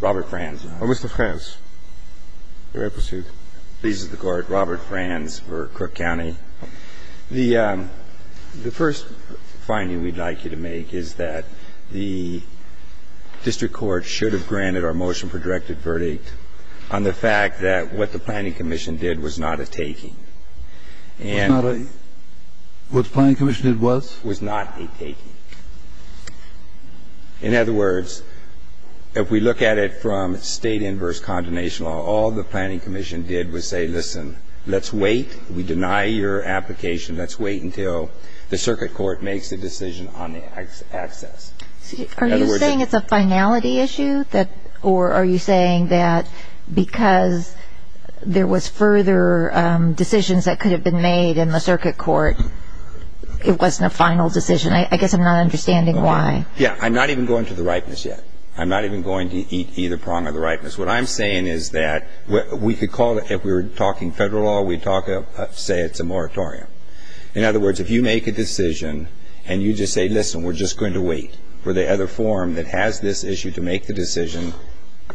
Robert Franz. Mr. Franz, you may proceed. Pleases the Court, Robert Franz for Crook County. The first finding we'd like you to make is that the District Court should have granted our motion for directed verdict on the fact that what the Planning Commission did was not a taking. What the Planning Commission did was? It was not a taking. In other words, if we look at it from state inverse condemnation law, all the Planning Commission did was say, listen, let's wait. We deny your application. Let's wait until the Circuit Court makes a decision on the access. Are you saying it's a finality issue? Or are you saying that because there was further decisions that could have been made in the Circuit Court, it wasn't a final decision? I guess I'm not understanding why. Yeah, I'm not even going to the ripeness yet. I'm not even going to eat either prong of the ripeness. What I'm saying is that we could call it, if we were talking federal law, we'd say it's a moratorium. In other words, if you make a decision and you just say, listen, we're just going to wait for the other forum that has this issue to make the decision,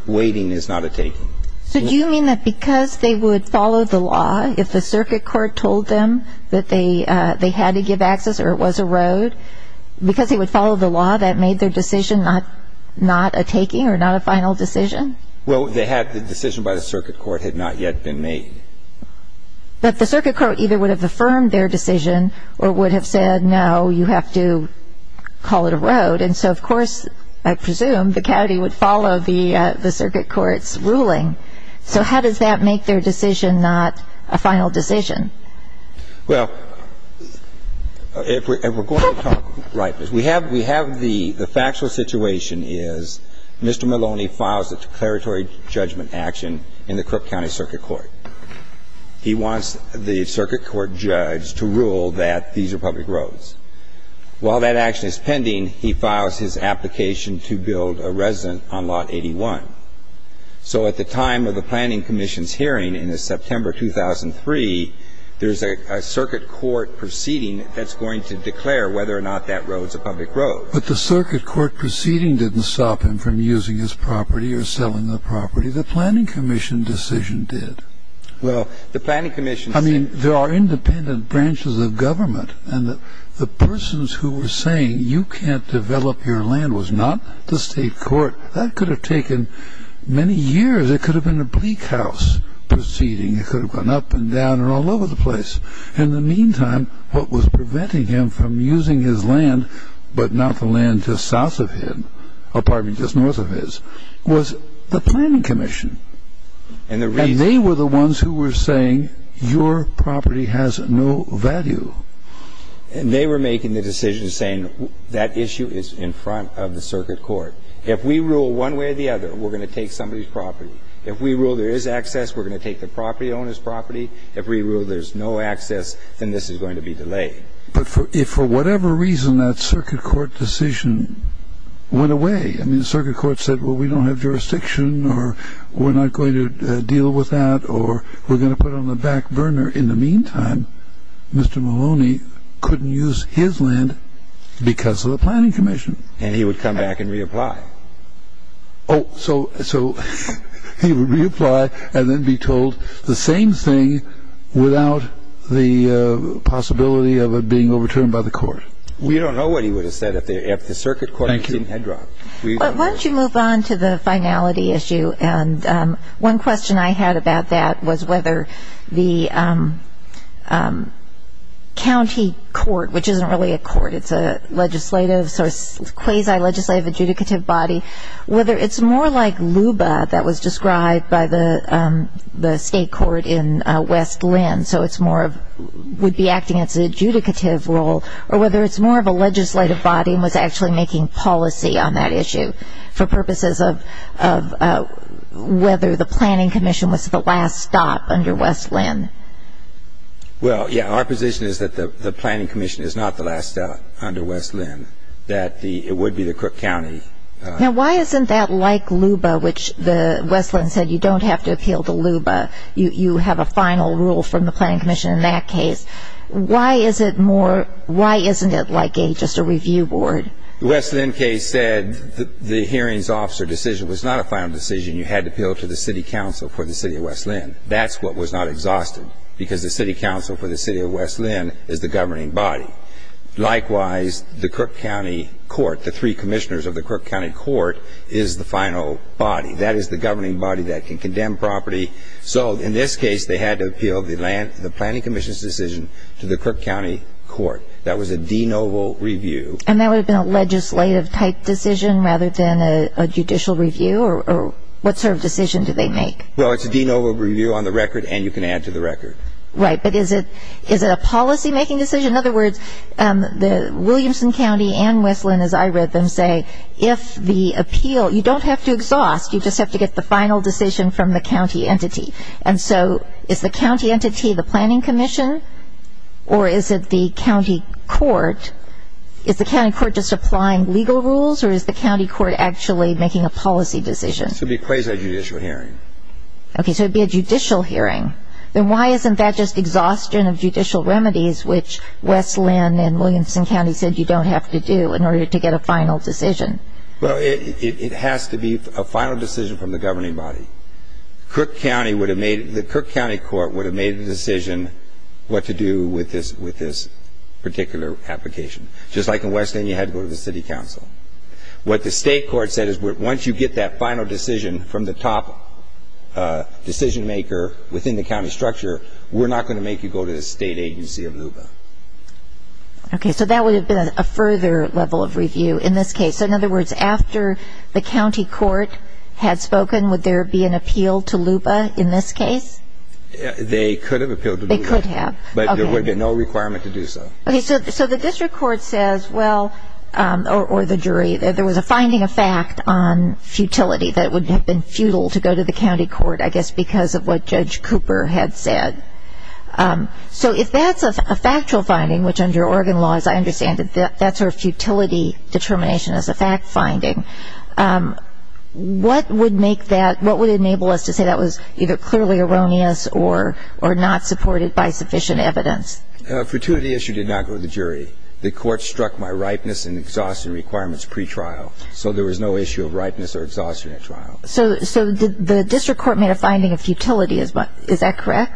waiting is not a taking. So do you mean that because they would follow the law, if the Circuit Court told them that they had to give access or it was a road, because they would follow the law, that made their decision not a taking or not a final decision? Well, the decision by the Circuit Court had not yet been made. But the Circuit Court either would have affirmed their decision or would have said, no, you have to call it a road. And so, of course, I presume the county would follow the Circuit Court's ruling. So how does that make their decision not a final decision? Well, if we're going to talk ripeness, we have the factual situation is Mr. Maloney files a declaratory judgment action in the Crook County Circuit Court. He wants the Circuit Court judge to rule that these are public roads. While that action is pending, he files his application to build a resident on Lot 81. So at the time of the Planning Commission's hearing in September 2003, there's a Circuit Court proceeding that's going to declare whether or not that road's a public road. But the Circuit Court proceeding didn't stop him from using his property or selling the property. The Planning Commission decision did. Well, the Planning Commission said no. I mean, there are independent branches of government. And the persons who were saying you can't develop your land was not the state court. That could have taken many years. It could have been a bleak house proceeding. It could have gone up and down and all over the place. In the meantime, what was preventing him from using his land, but not the land just south of him or probably just north of his, was the Planning Commission. And they were the ones who were saying your property has no value. And they were making the decision saying that issue is in front of the Circuit Court. If we rule one way or the other, we're going to take somebody's property. If we rule there is access, we're going to take the property owner's property. If we rule there's no access, then this is going to be delayed. But if for whatever reason that Circuit Court decision went away, I mean, we're not going to deal with that or we're going to put it on the back burner. In the meantime, Mr. Maloney couldn't use his land because of the Planning Commission. And he would come back and reapply. Oh, so he would reapply and then be told the same thing without the possibility of it being overturned by the court. We don't know what he would have said if the Circuit Court didn't head drop. Why don't you move on to the finality issue? And one question I had about that was whether the county court, which isn't really a court, it's a legislative, quasi-legislative, adjudicative body, whether it's more like LUBA that was described by the state court in West Linn, so it's more of would be acting as an adjudicative role, or whether it's more of a legislative body and was actually making policy on that issue for purposes of whether the Planning Commission was the last stop under West Linn. Well, yeah, our position is that the Planning Commission is not the last stop under West Linn, that it would be the Cook County. Now, why isn't that like LUBA, which West Linn said you don't have to appeal to LUBA? You have a final rule from the Planning Commission in that case. Why isn't it like just a review board? The West Linn case said the hearings officer decision was not a final decision. You had to appeal to the city council for the city of West Linn. That's what was not exhausted because the city council for the city of West Linn is the governing body. Likewise, the Cook County court, the three commissioners of the Cook County court, is the final body. That is the governing body that can condemn property. So in this case, they had to appeal the Planning Commission's decision to the Cook County court. That was a de novo review. And that would have been a legislative type decision rather than a judicial review, or what sort of decision did they make? Well, it's a de novo review on the record, and you can add to the record. Right, but is it a policymaking decision? In other words, the Williamson County and West Linn, as I read them say, if the appeal, you don't have to exhaust, you just have to get the final decision from the county entity. And so is the county entity the Planning Commission, or is it the county court? Is the county court just applying legal rules, or is the county court actually making a policy decision? It would be quasi-judicial hearing. Okay, so it would be a judicial hearing. Then why isn't that just exhaustion of judicial remedies, which West Linn and Williamson County said you don't have to do in order to get a final decision? Well, it has to be a final decision from the governing body. The Cook County Court would have made the decision what to do with this particular application. Just like in West Linn, you had to go to the city council. What the state court said is once you get that final decision from the top decision maker within the county structure, we're not going to make you go to the state agency of LUBA. Okay, so that would have been a further level of review in this case. In other words, after the county court had spoken, would there be an appeal to LUBA in this case? They could have appealed to LUBA. They could have. But there would be no requirement to do so. Okay, so the district court says, well, or the jury, that there was a finding of fact on futility that it would have been futile to go to the county court, I guess because of what Judge Cooper had said. So if that's a factual finding, which under Oregon law, as I understand it, that sort of futility determination is a fact finding, what would make that, what would enable us to say that was either clearly erroneous or not supported by sufficient evidence? A futility issue did not go to the jury. The court struck my ripeness and exhaustion requirements pretrial, so there was no issue of ripeness or exhaustion at trial. So the district court made a finding of futility. Is that correct?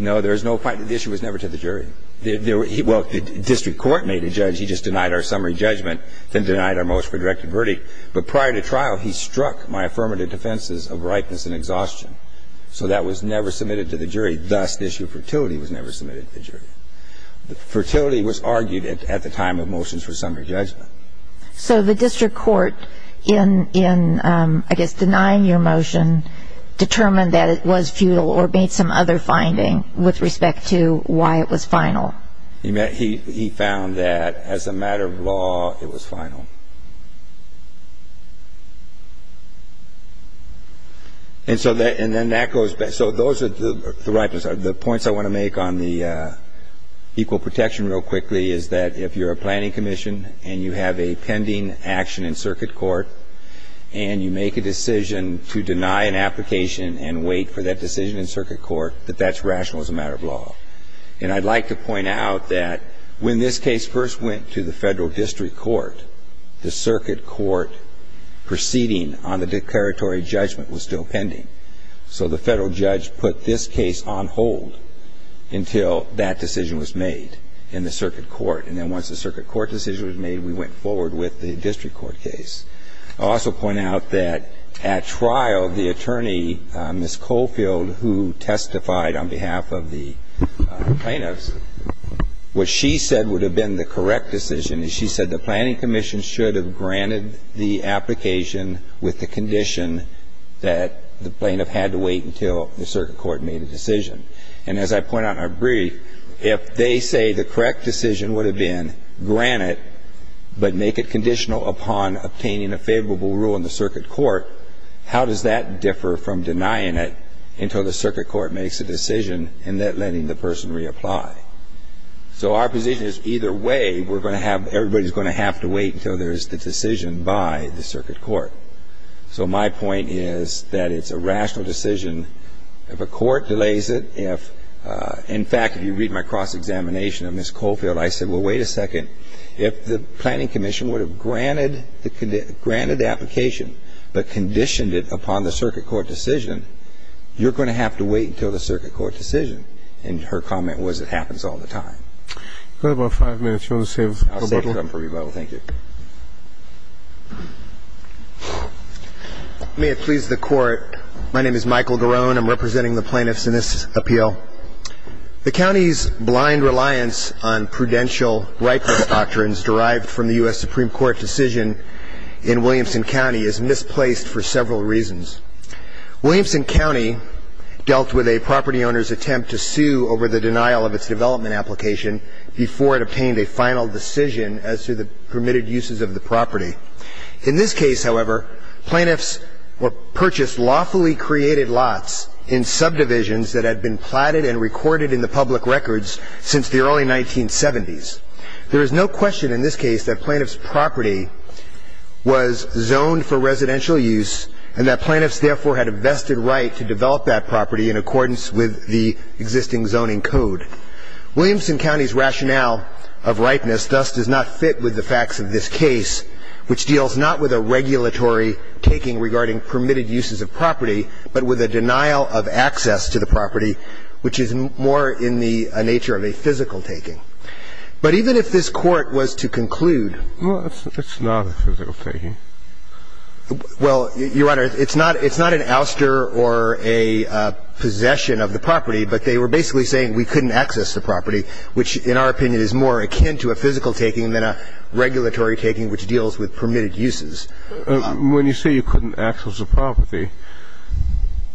No, there is no finding. The issue was never to the jury. Well, the district court made a judgment. He just denied our summary judgment, then denied our motion for directed verdict. But prior to trial, he struck my affirmative defenses of ripeness and exhaustion. So that was never submitted to the jury. Thus, the issue of futility was never submitted to the jury. Fertility was argued at the time of motions for summary judgment. So the district court, in I guess denying your motion, determined that it was futile or made some other finding with respect to why it was final. He found that as a matter of law, it was final. And so then that goes back. So those are the ripeness. The points I want to make on the equal protection real quickly is that if you're a planning commission and you have a pending action in circuit court and you make a decision to deny an application and wait for that decision in circuit court, that that's rational as a matter of law. And I'd like to point out that when this case first went to the federal district court, the circuit court proceeding on the declaratory judgment was still pending. So the federal judge put this case on hold until that decision was made in the circuit court. And then once the circuit court decision was made, we went forward with the district court case. I'll also point out that at trial, the attorney, Ms. Coffield, who testified on behalf of the plaintiffs, what she said would have been the correct decision is she said the planning commission should have granted the application with the condition that the plaintiff had to wait until the circuit court made a decision. And as I point out in our brief, if they say the correct decision would have been grant it but make it conditional upon obtaining a favorable rule in the circuit court, how does that differ from denying it until the circuit court makes a decision and then letting the person reapply? So our position is either way, we're going to have to wait until there's the decision by the circuit court. So my point is that it's a rational decision. If a court delays it, if, in fact, if you read my cross-examination of Ms. Coffield, I said, well, wait a second. If the planning commission would have granted the application but conditioned it upon the circuit court decision, you're going to have to wait until the circuit court decision. And her comment was it happens all the time. You've got about five minutes. You want to save a little? I'll save time for rebuttal. Thank you. May it please the Court. My name is Michael Garone. I'm representing the plaintiffs in this appeal. The county's blind reliance on prudential rightful doctrines derived from the U.S. Supreme Court decision in Williamson County is misplaced for several reasons. Williamson County dealt with a property owner's attempt to sue over the denial of its development application before it obtained a final decision as to the permitted uses of the property. In this case, however, plaintiffs purchased lawfully created lots in subdivisions that had been platted and recorded in the public records since the early 1970s. There is no question in this case that plaintiff's property was zoned for residential use and that plaintiffs, therefore, had a vested right to develop that property in accordance with the existing zoning code. Williamson County's rationale of ripeness thus does not fit with the facts of this case, which deals not with a regulatory taking regarding permitted uses of property, but with a denial of access to the property, which is more in the nature of a physical taking. But even if this Court was to conclude. Well, it's not a physical taking. Well, Your Honor, it's not an ouster or a possession of the property, but they were basically saying we couldn't access the property, which in our opinion is more akin to a physical taking than a regulatory taking, which deals with permitted uses. When you say you couldn't access the property,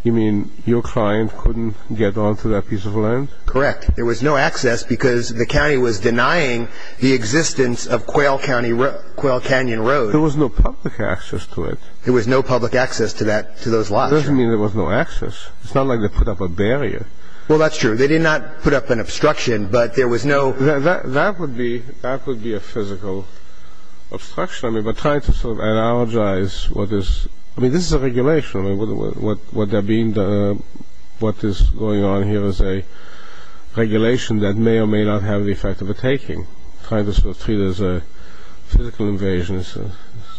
you mean your client couldn't get onto that piece of land? Correct. There was no access because the county was denying the existence of Quail Canyon Road. There was no public access to it. There was no public access to those lots. It doesn't mean there was no access. It's not like they put up a barrier. Well, that's true. They did not put up an obstruction, but there was no... That would be a physical obstruction, but trying to analogize what is... I mean, this is a regulation. What is going on here is a regulation that may or may not have the effect of a taking. Trying to treat it as a physical invasion is a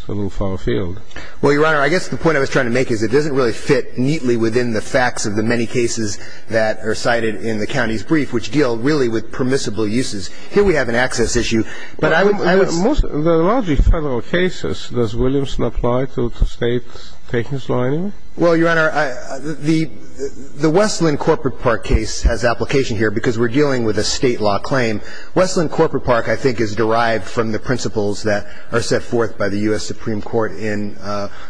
little far afield. Well, Your Honor, I guess the point I was trying to make is it doesn't really fit neatly within the facts of the many cases that are cited in the county's brief, which deal really with permissible uses. Here we have an access issue, but I would... The largely federal cases, does Williamson apply to state takings lining? Well, Your Honor, the Westland Corporate Park case has application here because we're dealing with a state law claim. Westland Corporate Park, I think, is derived from the principles that are set forth by the U.S. Supreme Court in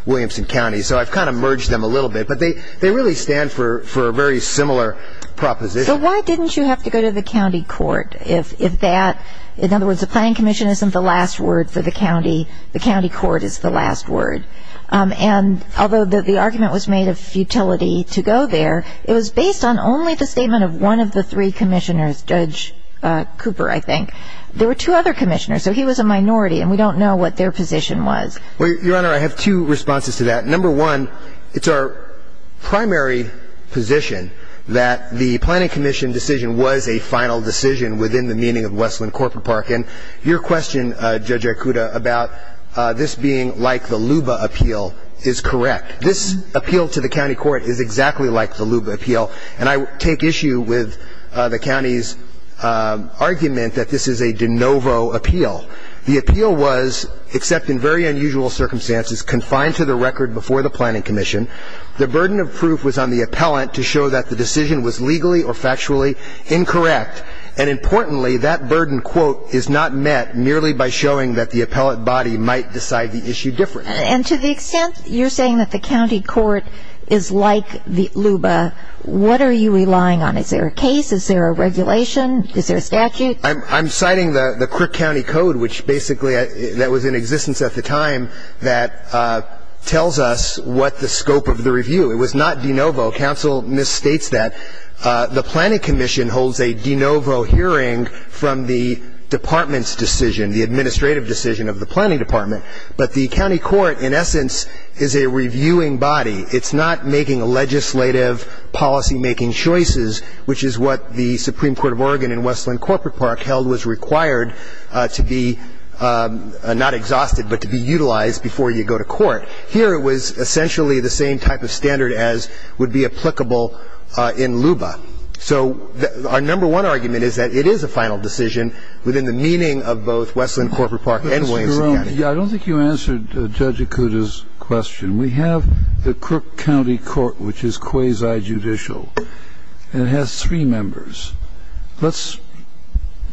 Williamson County. So I've kind of merged them a little bit, but they really stand for a very similar proposition. So why didn't you have to go to the county court if that... In other words, the planning commission isn't the last word for the county. The county court is the last word. And although the argument was made of futility to go there, it was based on only the statement of one of the three commissioners, Judge Cooper, I think. There were two other commissioners, so he was a minority, and we don't know what their position was. Well, Your Honor, I have two responses to that. Number one, it's our primary position that the planning commission decision was a final decision within the meaning of Westland Corporate Park. And your question, Judge Ikuda, about this being like the LUBA appeal is correct. This appeal to the county court is exactly like the LUBA appeal. And I take issue with the county's argument that this is a de novo appeal. The appeal was, except in very unusual circumstances, confined to the record before the planning commission. The burden of proof was on the appellant to show that the decision was legally or factually incorrect. And importantly, that burden, quote, is not met merely by showing that the appellant body might decide the issue differently. And to the extent you're saying that the county court is like the LUBA, what are you relying on? Is there a case? Is there a regulation? Is there a statute? I'm citing the Crick County Code, which basically that was in existence at the time, that tells us what the scope of the review. It was not de novo. Counsel misstates that. The planning commission holds a de novo hearing from the department's decision, the administrative decision of the planning department. But the county court, in essence, is a reviewing body. It's not making legislative policymaking choices, which is what the Supreme Court of Oregon and Westland Corporate Park held was required to be not exhausted, but to be utilized before you go to court. Here it was essentially the same type of standard as would be applicable in LUBA. So our number one argument is that it is a final decision within the meaning of both Westland Corporate Park and Williamson County. I don't think you answered Judge Ikuda's question. We have the Crook County Court, which is quasi-judicial, and it has three members. Let's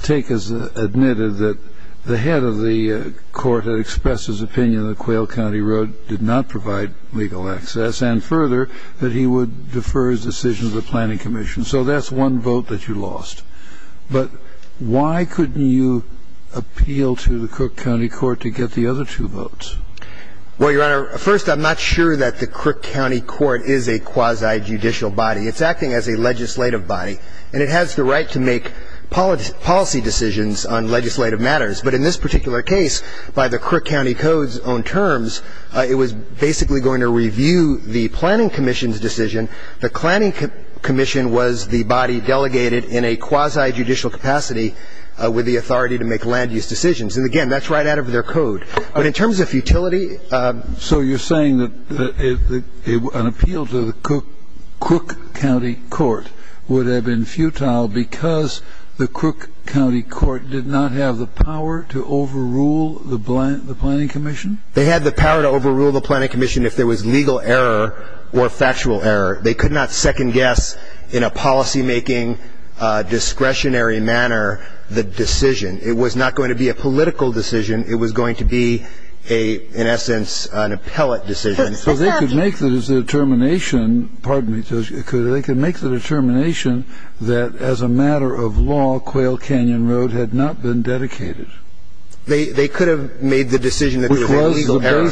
take as admitted that the head of the court had expressed his opinion that Quail County Road did not provide legal access and, further, that he would defer his decision to the planning commission. So that's one vote that you lost. But why couldn't you appeal to the Crook County Court to get the other two votes? Well, Your Honor, first, I'm not sure that the Crook County Court is a quasi-judicial body. It's acting as a legislative body, and it has the right to make policy decisions on legislative matters. But in this particular case, by the Crook County Code's own terms, it was basically going to review the planning commission's decision. The planning commission was the body delegated in a quasi-judicial capacity with the authority to make land-use decisions. And, again, that's right out of their code. But in terms of futility ---- So you're saying that an appeal to the Crook County Court would have been futile because the Crook County Court did not have the power to overrule the planning commission? They had the power to overrule the planning commission if there was legal error or factual error. They could not second-guess in a policymaking, discretionary manner the decision. It was not going to be a political decision. It was going to be, in essence, an appellate decision. So they could make the determination that, as a matter of law, Quail Canyon Road had not been dedicated? They could have made the decision that there was legal error.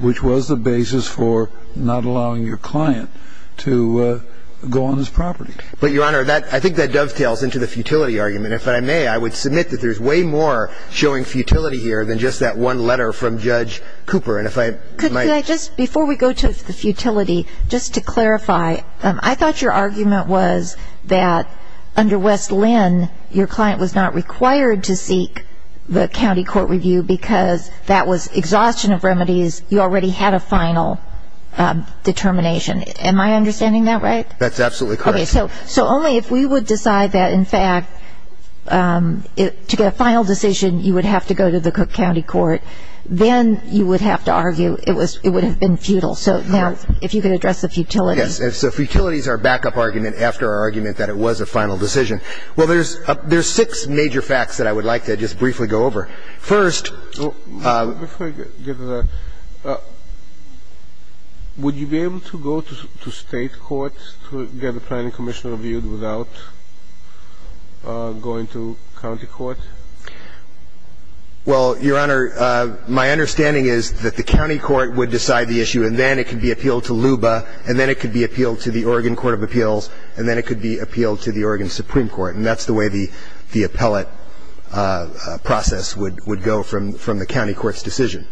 Which was the basis for not allowing your client to go on his property. But, Your Honor, I think that dovetails into the futility argument. If I may, I would submit that there's way more showing futility here than just that one letter from Judge Cooper. And if I might ---- Could I just, before we go to the futility, just to clarify, I thought your argument was that under West Linn, your client was not required to seek the county court review because that was exhaustion of remedies. You already had a final determination. Am I understanding that right? That's absolutely correct. Okay, so only if we would decide that, in fact, to get a final decision, you would have to go to the Crook County Court, then you would have to argue it would have been futile. So now, if you could address the futility. Yes, so futility is our backup argument after our argument that it was a final decision. Well, there's six major facts that I would like to just briefly go over. First ---- Before I get to that, would you be able to go to state courts to get a planning commissioner reviewed without going to county court? Well, Your Honor, my understanding is that the county court would decide the issue, and then it could be appealed to LUBA, and then it could be appealed to the Oregon Court of Appeals, and then it could be appealed to the Oregon Supreme Court. And that's the way the appellate process would go from the county court's decision.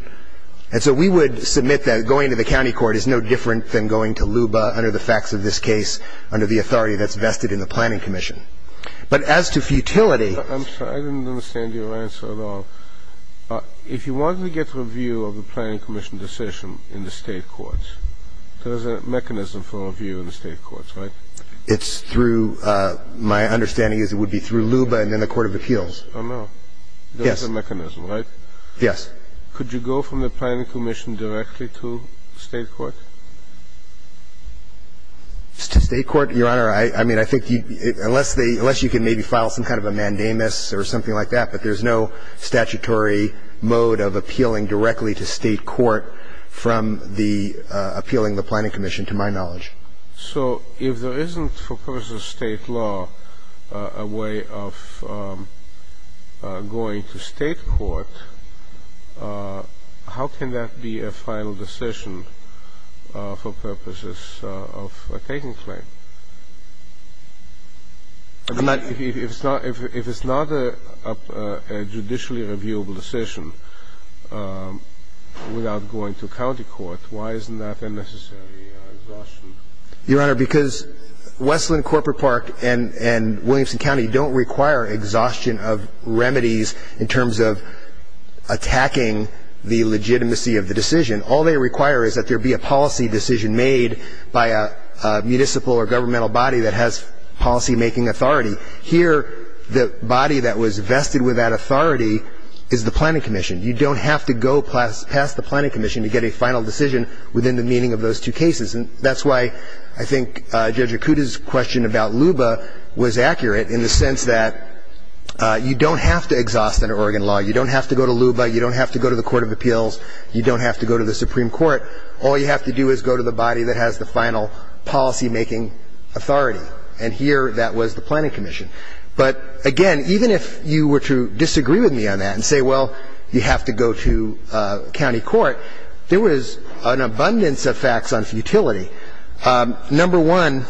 And so we would submit that going to the county court is no different than going to LUBA under the facts of this case under the authority that's vested in the planning commission. But as to futility ---- I'm sorry, I didn't understand your answer at all. If you wanted to get review of the planning commission decision in the state courts, there is a mechanism for review in the state courts, right? It's through ---- My understanding is it would be through LUBA and then the court of appeals. Oh, no. Yes. There is a mechanism, right? Yes. Could you go from the planning commission directly to state court? To state court, Your Honor, I mean, I think unless they ---- unless you can maybe file some kind of a mandamus or something like that, but there's no statutory mode of appealing directly to state court from the appealing the planning commission, to my knowledge. So if there isn't for purposes of state law a way of going to state court, how can that be a final decision for purposes of taking claim? If it's not a judicially reviewable decision without going to county court, why isn't that a necessary exhaustion? Your Honor, because Wesleyan Corporate Park and Williamson County don't require exhaustion of remedies in terms of attacking the legitimacy of the decision. All they require is that there be a policy decision made by a municipal or governmental body that has policymaking authority. Here, the body that was vested with that authority is the planning commission. You don't have to go past the planning commission to get a final decision within the meaning of those two cases. And that's why I think Judge Acuda's question about LUBA was accurate in the sense that you don't have to exhaust that Oregon law. You don't have to go to LUBA. You don't have to go to the Supreme Court. All you have to do is go to the body that has the final policymaking authority. And here, that was the planning commission. But, again, even if you were to disagree with me on that and say, well, you have to go to county court, there was an abundance of facts on futility. Number one,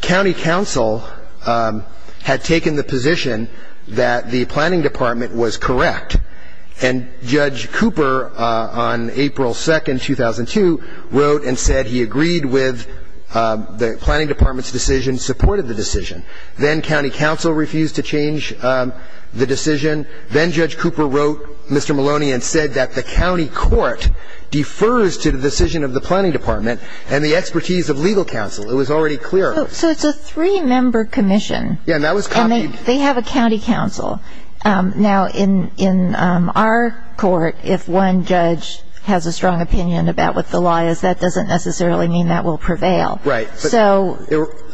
county council had taken the position that the planning department was correct. And Judge Cooper, on April 2nd, 2002, wrote and said he agreed with the planning department's decision, supported the decision. Then county council refused to change the decision. Then Judge Cooper wrote Mr. Maloney and said that the county court defers to the decision of the planning department and the expertise of legal counsel. It was already clear. So it's a three-member commission. Yeah, and that was copied. And they have a county council. Now, in our court, if one judge has a strong opinion about what the law is, that doesn't necessarily mean that will prevail. So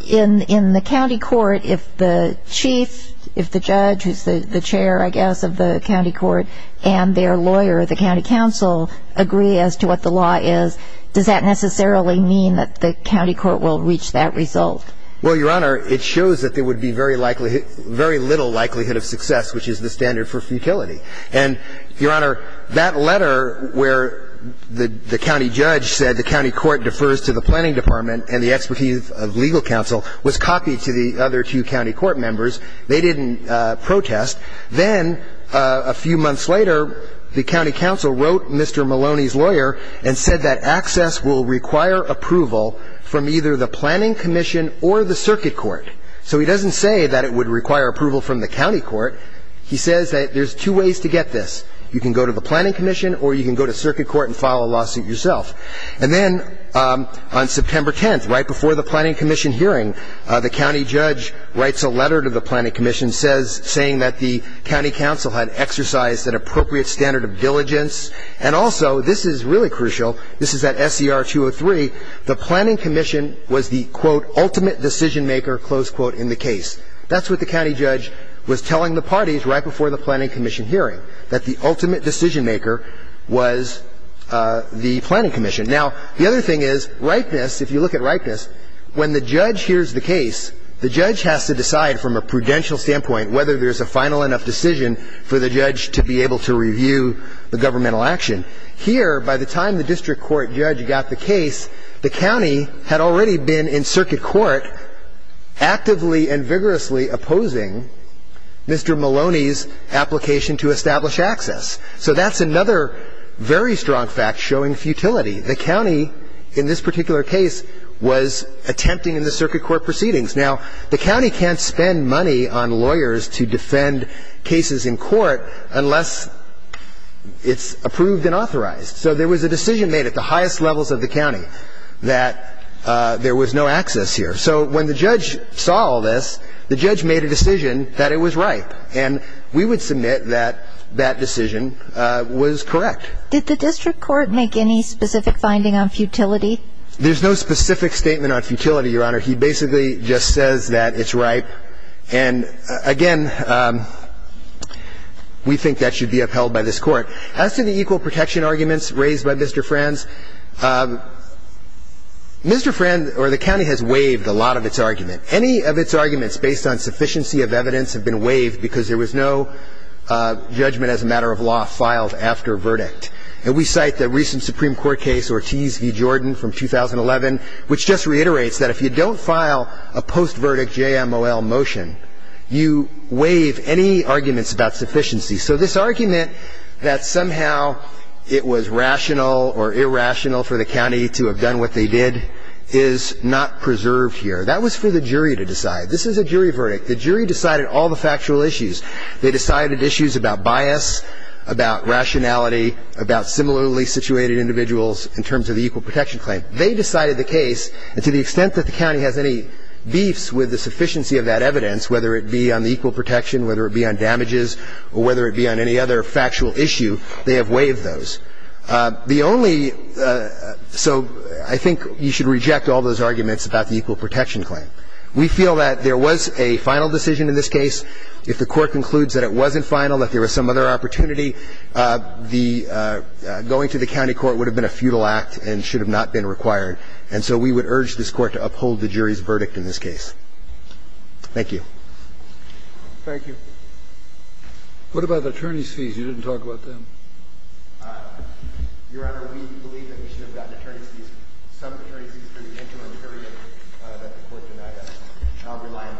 in the county court, if the chief, if the judge, who's the chair, I guess, of the county court, and their lawyer, the county council, agree as to what the law is, does that necessarily mean that the county court will reach that result? Well, Your Honor, it shows that there would be very little likelihood of success, which is the standard for futility. And, Your Honor, that letter where the county judge said the county court defers to the planning department and the expertise of legal counsel was copied to the other two county court members. They didn't protest. Then a few months later, the county council wrote Mr. Maloney's lawyer and said that access will require approval from either the planning commission or the circuit court. So he doesn't say that it would require approval from the county court. He says that there's two ways to get this. You can go to the planning commission or you can go to circuit court and file a lawsuit yourself. And then on September 10th, right before the planning commission hearing, the county judge writes a letter to the planning commission saying that the county council had exercised an appropriate standard of diligence. And also, this is really crucial, this is at SCR 203, the planning commission was the, quote, ultimate decision maker, close quote, in the case. That's what the county judge was telling the parties right before the planning commission hearing, that the ultimate decision maker was the planning commission. Now, the other thing is, ripeness, if you look at ripeness, when the judge hears the case, the judge has to decide from a prudential standpoint whether there's a final enough decision for the judge to be able to review the governmental action. Here, by the time the district court judge got the case, the county had already been in circuit court actively and vigorously opposing Mr. Maloney's application to establish access. So that's another very strong fact showing futility. The county, in this particular case, was attempting in the circuit court proceedings. Now, the county can't spend money on lawyers to defend cases in court unless it's approved and authorized. So there was a decision made at the highest levels of the county that there was no access here. So when the judge saw all this, the judge made a decision that it was ripe. And we would submit that that decision was correct. Did the district court make any specific finding on futility? There's no specific statement on futility, Your Honor. He basically just says that it's ripe. And, again, we think that should be upheld by this court. As to the equal protection arguments raised by Mr. Franz, Mr. Franz or the county has waived a lot of its argument. Any of its arguments based on sufficiency of evidence have been waived because there was no judgment as a matter of law filed after verdict. And we cite the recent Supreme Court case Ortiz v. Jordan from 2011, which just reiterates that if you don't file a post-verdict JMOL motion, you waive any arguments about sufficiency. So this argument that somehow it was rational or irrational for the county to have done what they did is not preserved here. That was for the jury to decide. This is a jury verdict. The jury decided all the factual issues. They decided issues about bias, about rationality, about similarly situated individuals in terms of the equal protection claim. They decided the case. And to the extent that the county has any beefs with the sufficiency of that evidence, whether it be on the equal protection, whether it be on damages, or whether it be on any other factual issue, they have waived those. The only so I think you should reject all those arguments about the equal protection claim. We feel that there was a final decision in this case. If the court concludes that it wasn't final, that there was some other opportunity, the going to the county court would have been a futile act and should have not been required. And so we would urge this court to uphold the jury's verdict in this case. Thank you. Thank you. What about the attorney's fees? You didn't talk about them. Your Honor, we believe that we should have gotten attorney's fees, some attorney's fees for the interim period that the court denied us. And I'll rely on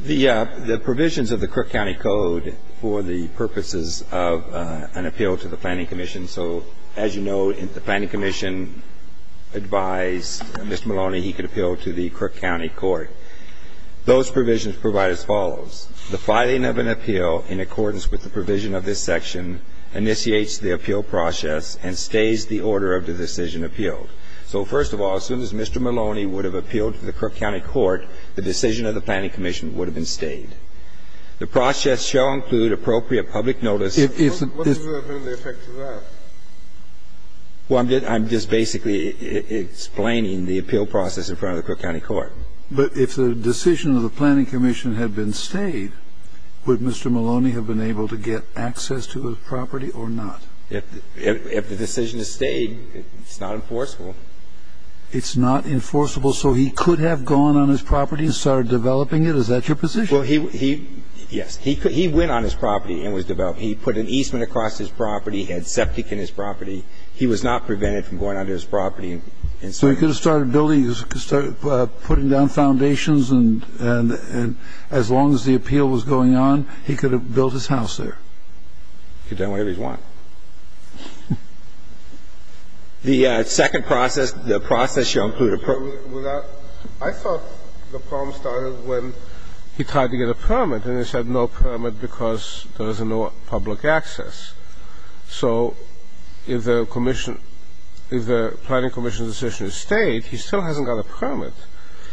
the agreement. The provisions of the Crook County Code for the purposes of an appeal to the Planning Commission. So as you know, the Planning Commission advised Mr. Maloney he could appeal to the Crook County Court. Those provisions provide as follows. The filing of an appeal in accordance with the provision of this section initiates the appeal process and stays the order of the decision appealed. So first of all, as soon as Mr. Maloney would have appealed to the Crook County Court, the decision of the Planning Commission would have been stayed. The process shall include appropriate public notice. What would have been the effect of that? Well, I'm just basically explaining the appeal process in front of the Crook County Court. But if the decision of the Planning Commission had been stayed, would Mr. Maloney have been able to get access to the property or not? If the decision is stayed, it's not enforceable. It's not enforceable. So he could have gone on his property and started developing it. Is that your position? Well, he – yes. He went on his property and was developing it. He put an easement across his property. He had septic in his property. He was not prevented from going on to his property and so on. So he could have started building – he could start putting down foundations and as long as the appeal was going on, he could have built his house there. He could have done whatever he wanted. The second process, the process shall include appropriate public notice. I thought the problem started when he tried to get a permit and they said no permit because there was no public access. So if the Planning Commission's decision is stayed, he still hasn't got a permit.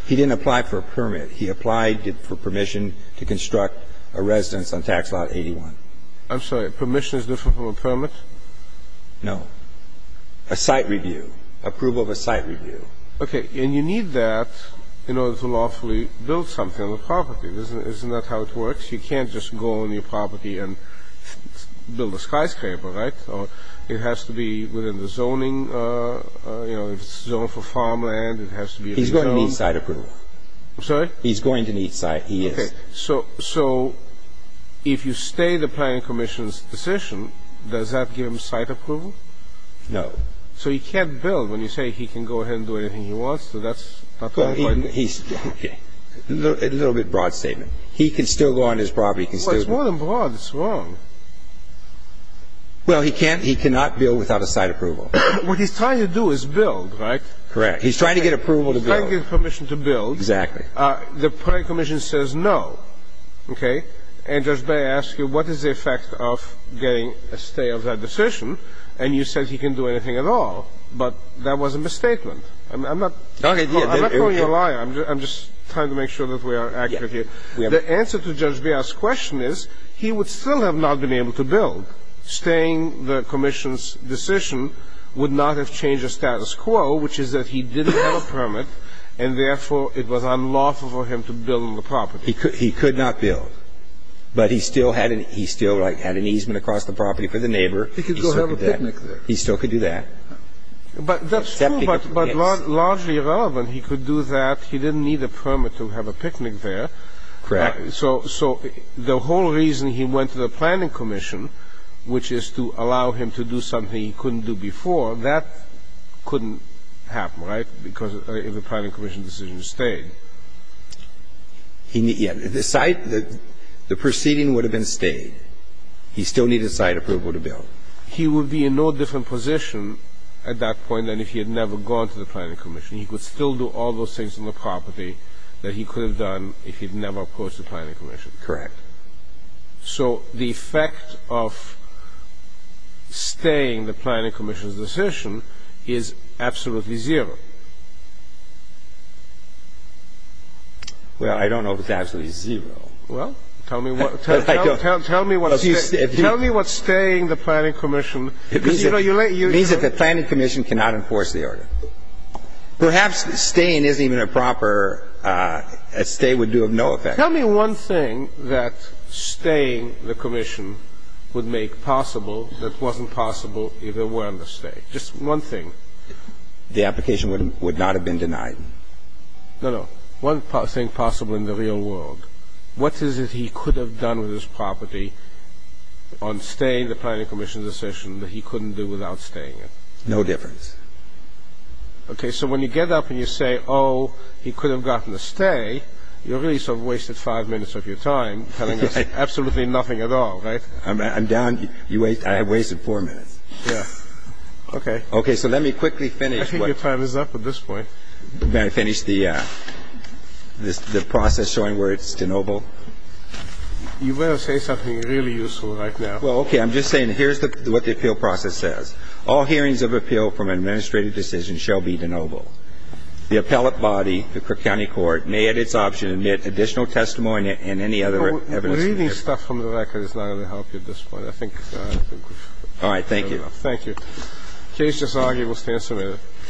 He didn't apply for a permit. He applied for permission to construct a residence on Tax Lot 81. I'm sorry. Permission is different from a permit? No. A site review, approval of a site review. Okay. And you need that in order to lawfully build something on the property. Isn't that how it works? You can't just go on your property and build a skyscraper, right? It has to be within the zoning. You know, if it's zoned for farmland, it has to be a zone. He's going to need site approval. I'm sorry? He's going to need site. He is. Okay. So if you stay the Planning Commission's decision, does that give him site approval? No. So he can't build when you say he can go ahead and do anything he wants? So that's not going to – Okay. A little bit broad statement. He can still go on his property. He can still – Well, it's more than broad. It's wrong. Well, he can't – he cannot build without a site approval. What he's trying to do is build, right? Correct. He's trying to get approval to build. He's trying to get permission to build. Exactly. The Planning Commission says no. Okay. And Judge Beyer asks you what is the effect of getting a stay of that decision, and you said he can do anything at all. But that was a misstatement. I'm not – Okay. I'm not calling you a liar. I'm just trying to make sure that we are accurate here. The answer to Judge Beyer's question is he would still have not been able to build, staying the commission's decision would not have changed the status quo, which is that he didn't have a permit, and therefore, it was unlawful for him to build on the property. He could not build, but he still had an easement across the property for the neighbor. He could go have a picnic there. He still could do that. But that's true, but largely irrelevant. He could do that. He didn't need a permit to have a picnic there. Correct. So the whole reason he went to the planning commission, which is to allow him to do something he couldn't do before, that couldn't happen, right, because of the planning commission's decision to stay. Yeah. The site, the proceeding would have been stayed. He still needed site approval to build. He would be in no different position at that point than if he had never gone to the planning commission. He could still do all those things on the property that he could have done if he'd never opposed the planning commission. Correct. So the effect of staying the planning commission's decision is absolutely zero. Well, I don't know if it's absolutely zero. Well, tell me what staying the planning commission means. It means that the planning commission cannot enforce the order. Perhaps staying isn't even a proper – a stay would do of no effect. Tell me one thing that staying the commission would make possible that wasn't possible if there weren't a stay. Just one thing. The application would not have been denied. No, no. One thing possible in the real world. What is it he could have done with his property on staying the planning commission's decision that he couldn't do without staying it? No difference. Okay. So when you get up and you say, oh, he could have gotten a stay, you really sort of wasted five minutes of your time telling us absolutely nothing at all, right? I'm down. I have wasted four minutes. Yeah. Okay. Okay. So let me quickly finish. I think your time is up at this point. May I finish the process showing where it's de novo? You better say something really useful right now. Well, okay. I'm just saying here's what the appeal process says. All hearings of appeal from an administrative decision shall be de novo. The appellate body, the Cook County Court, may at its option admit additional testimony and any other evidence. Reading stuff from the record is not going to help you at this point. I think we've heard enough. All right. Thank you. Thank you. The case is argued. We'll stand serenity.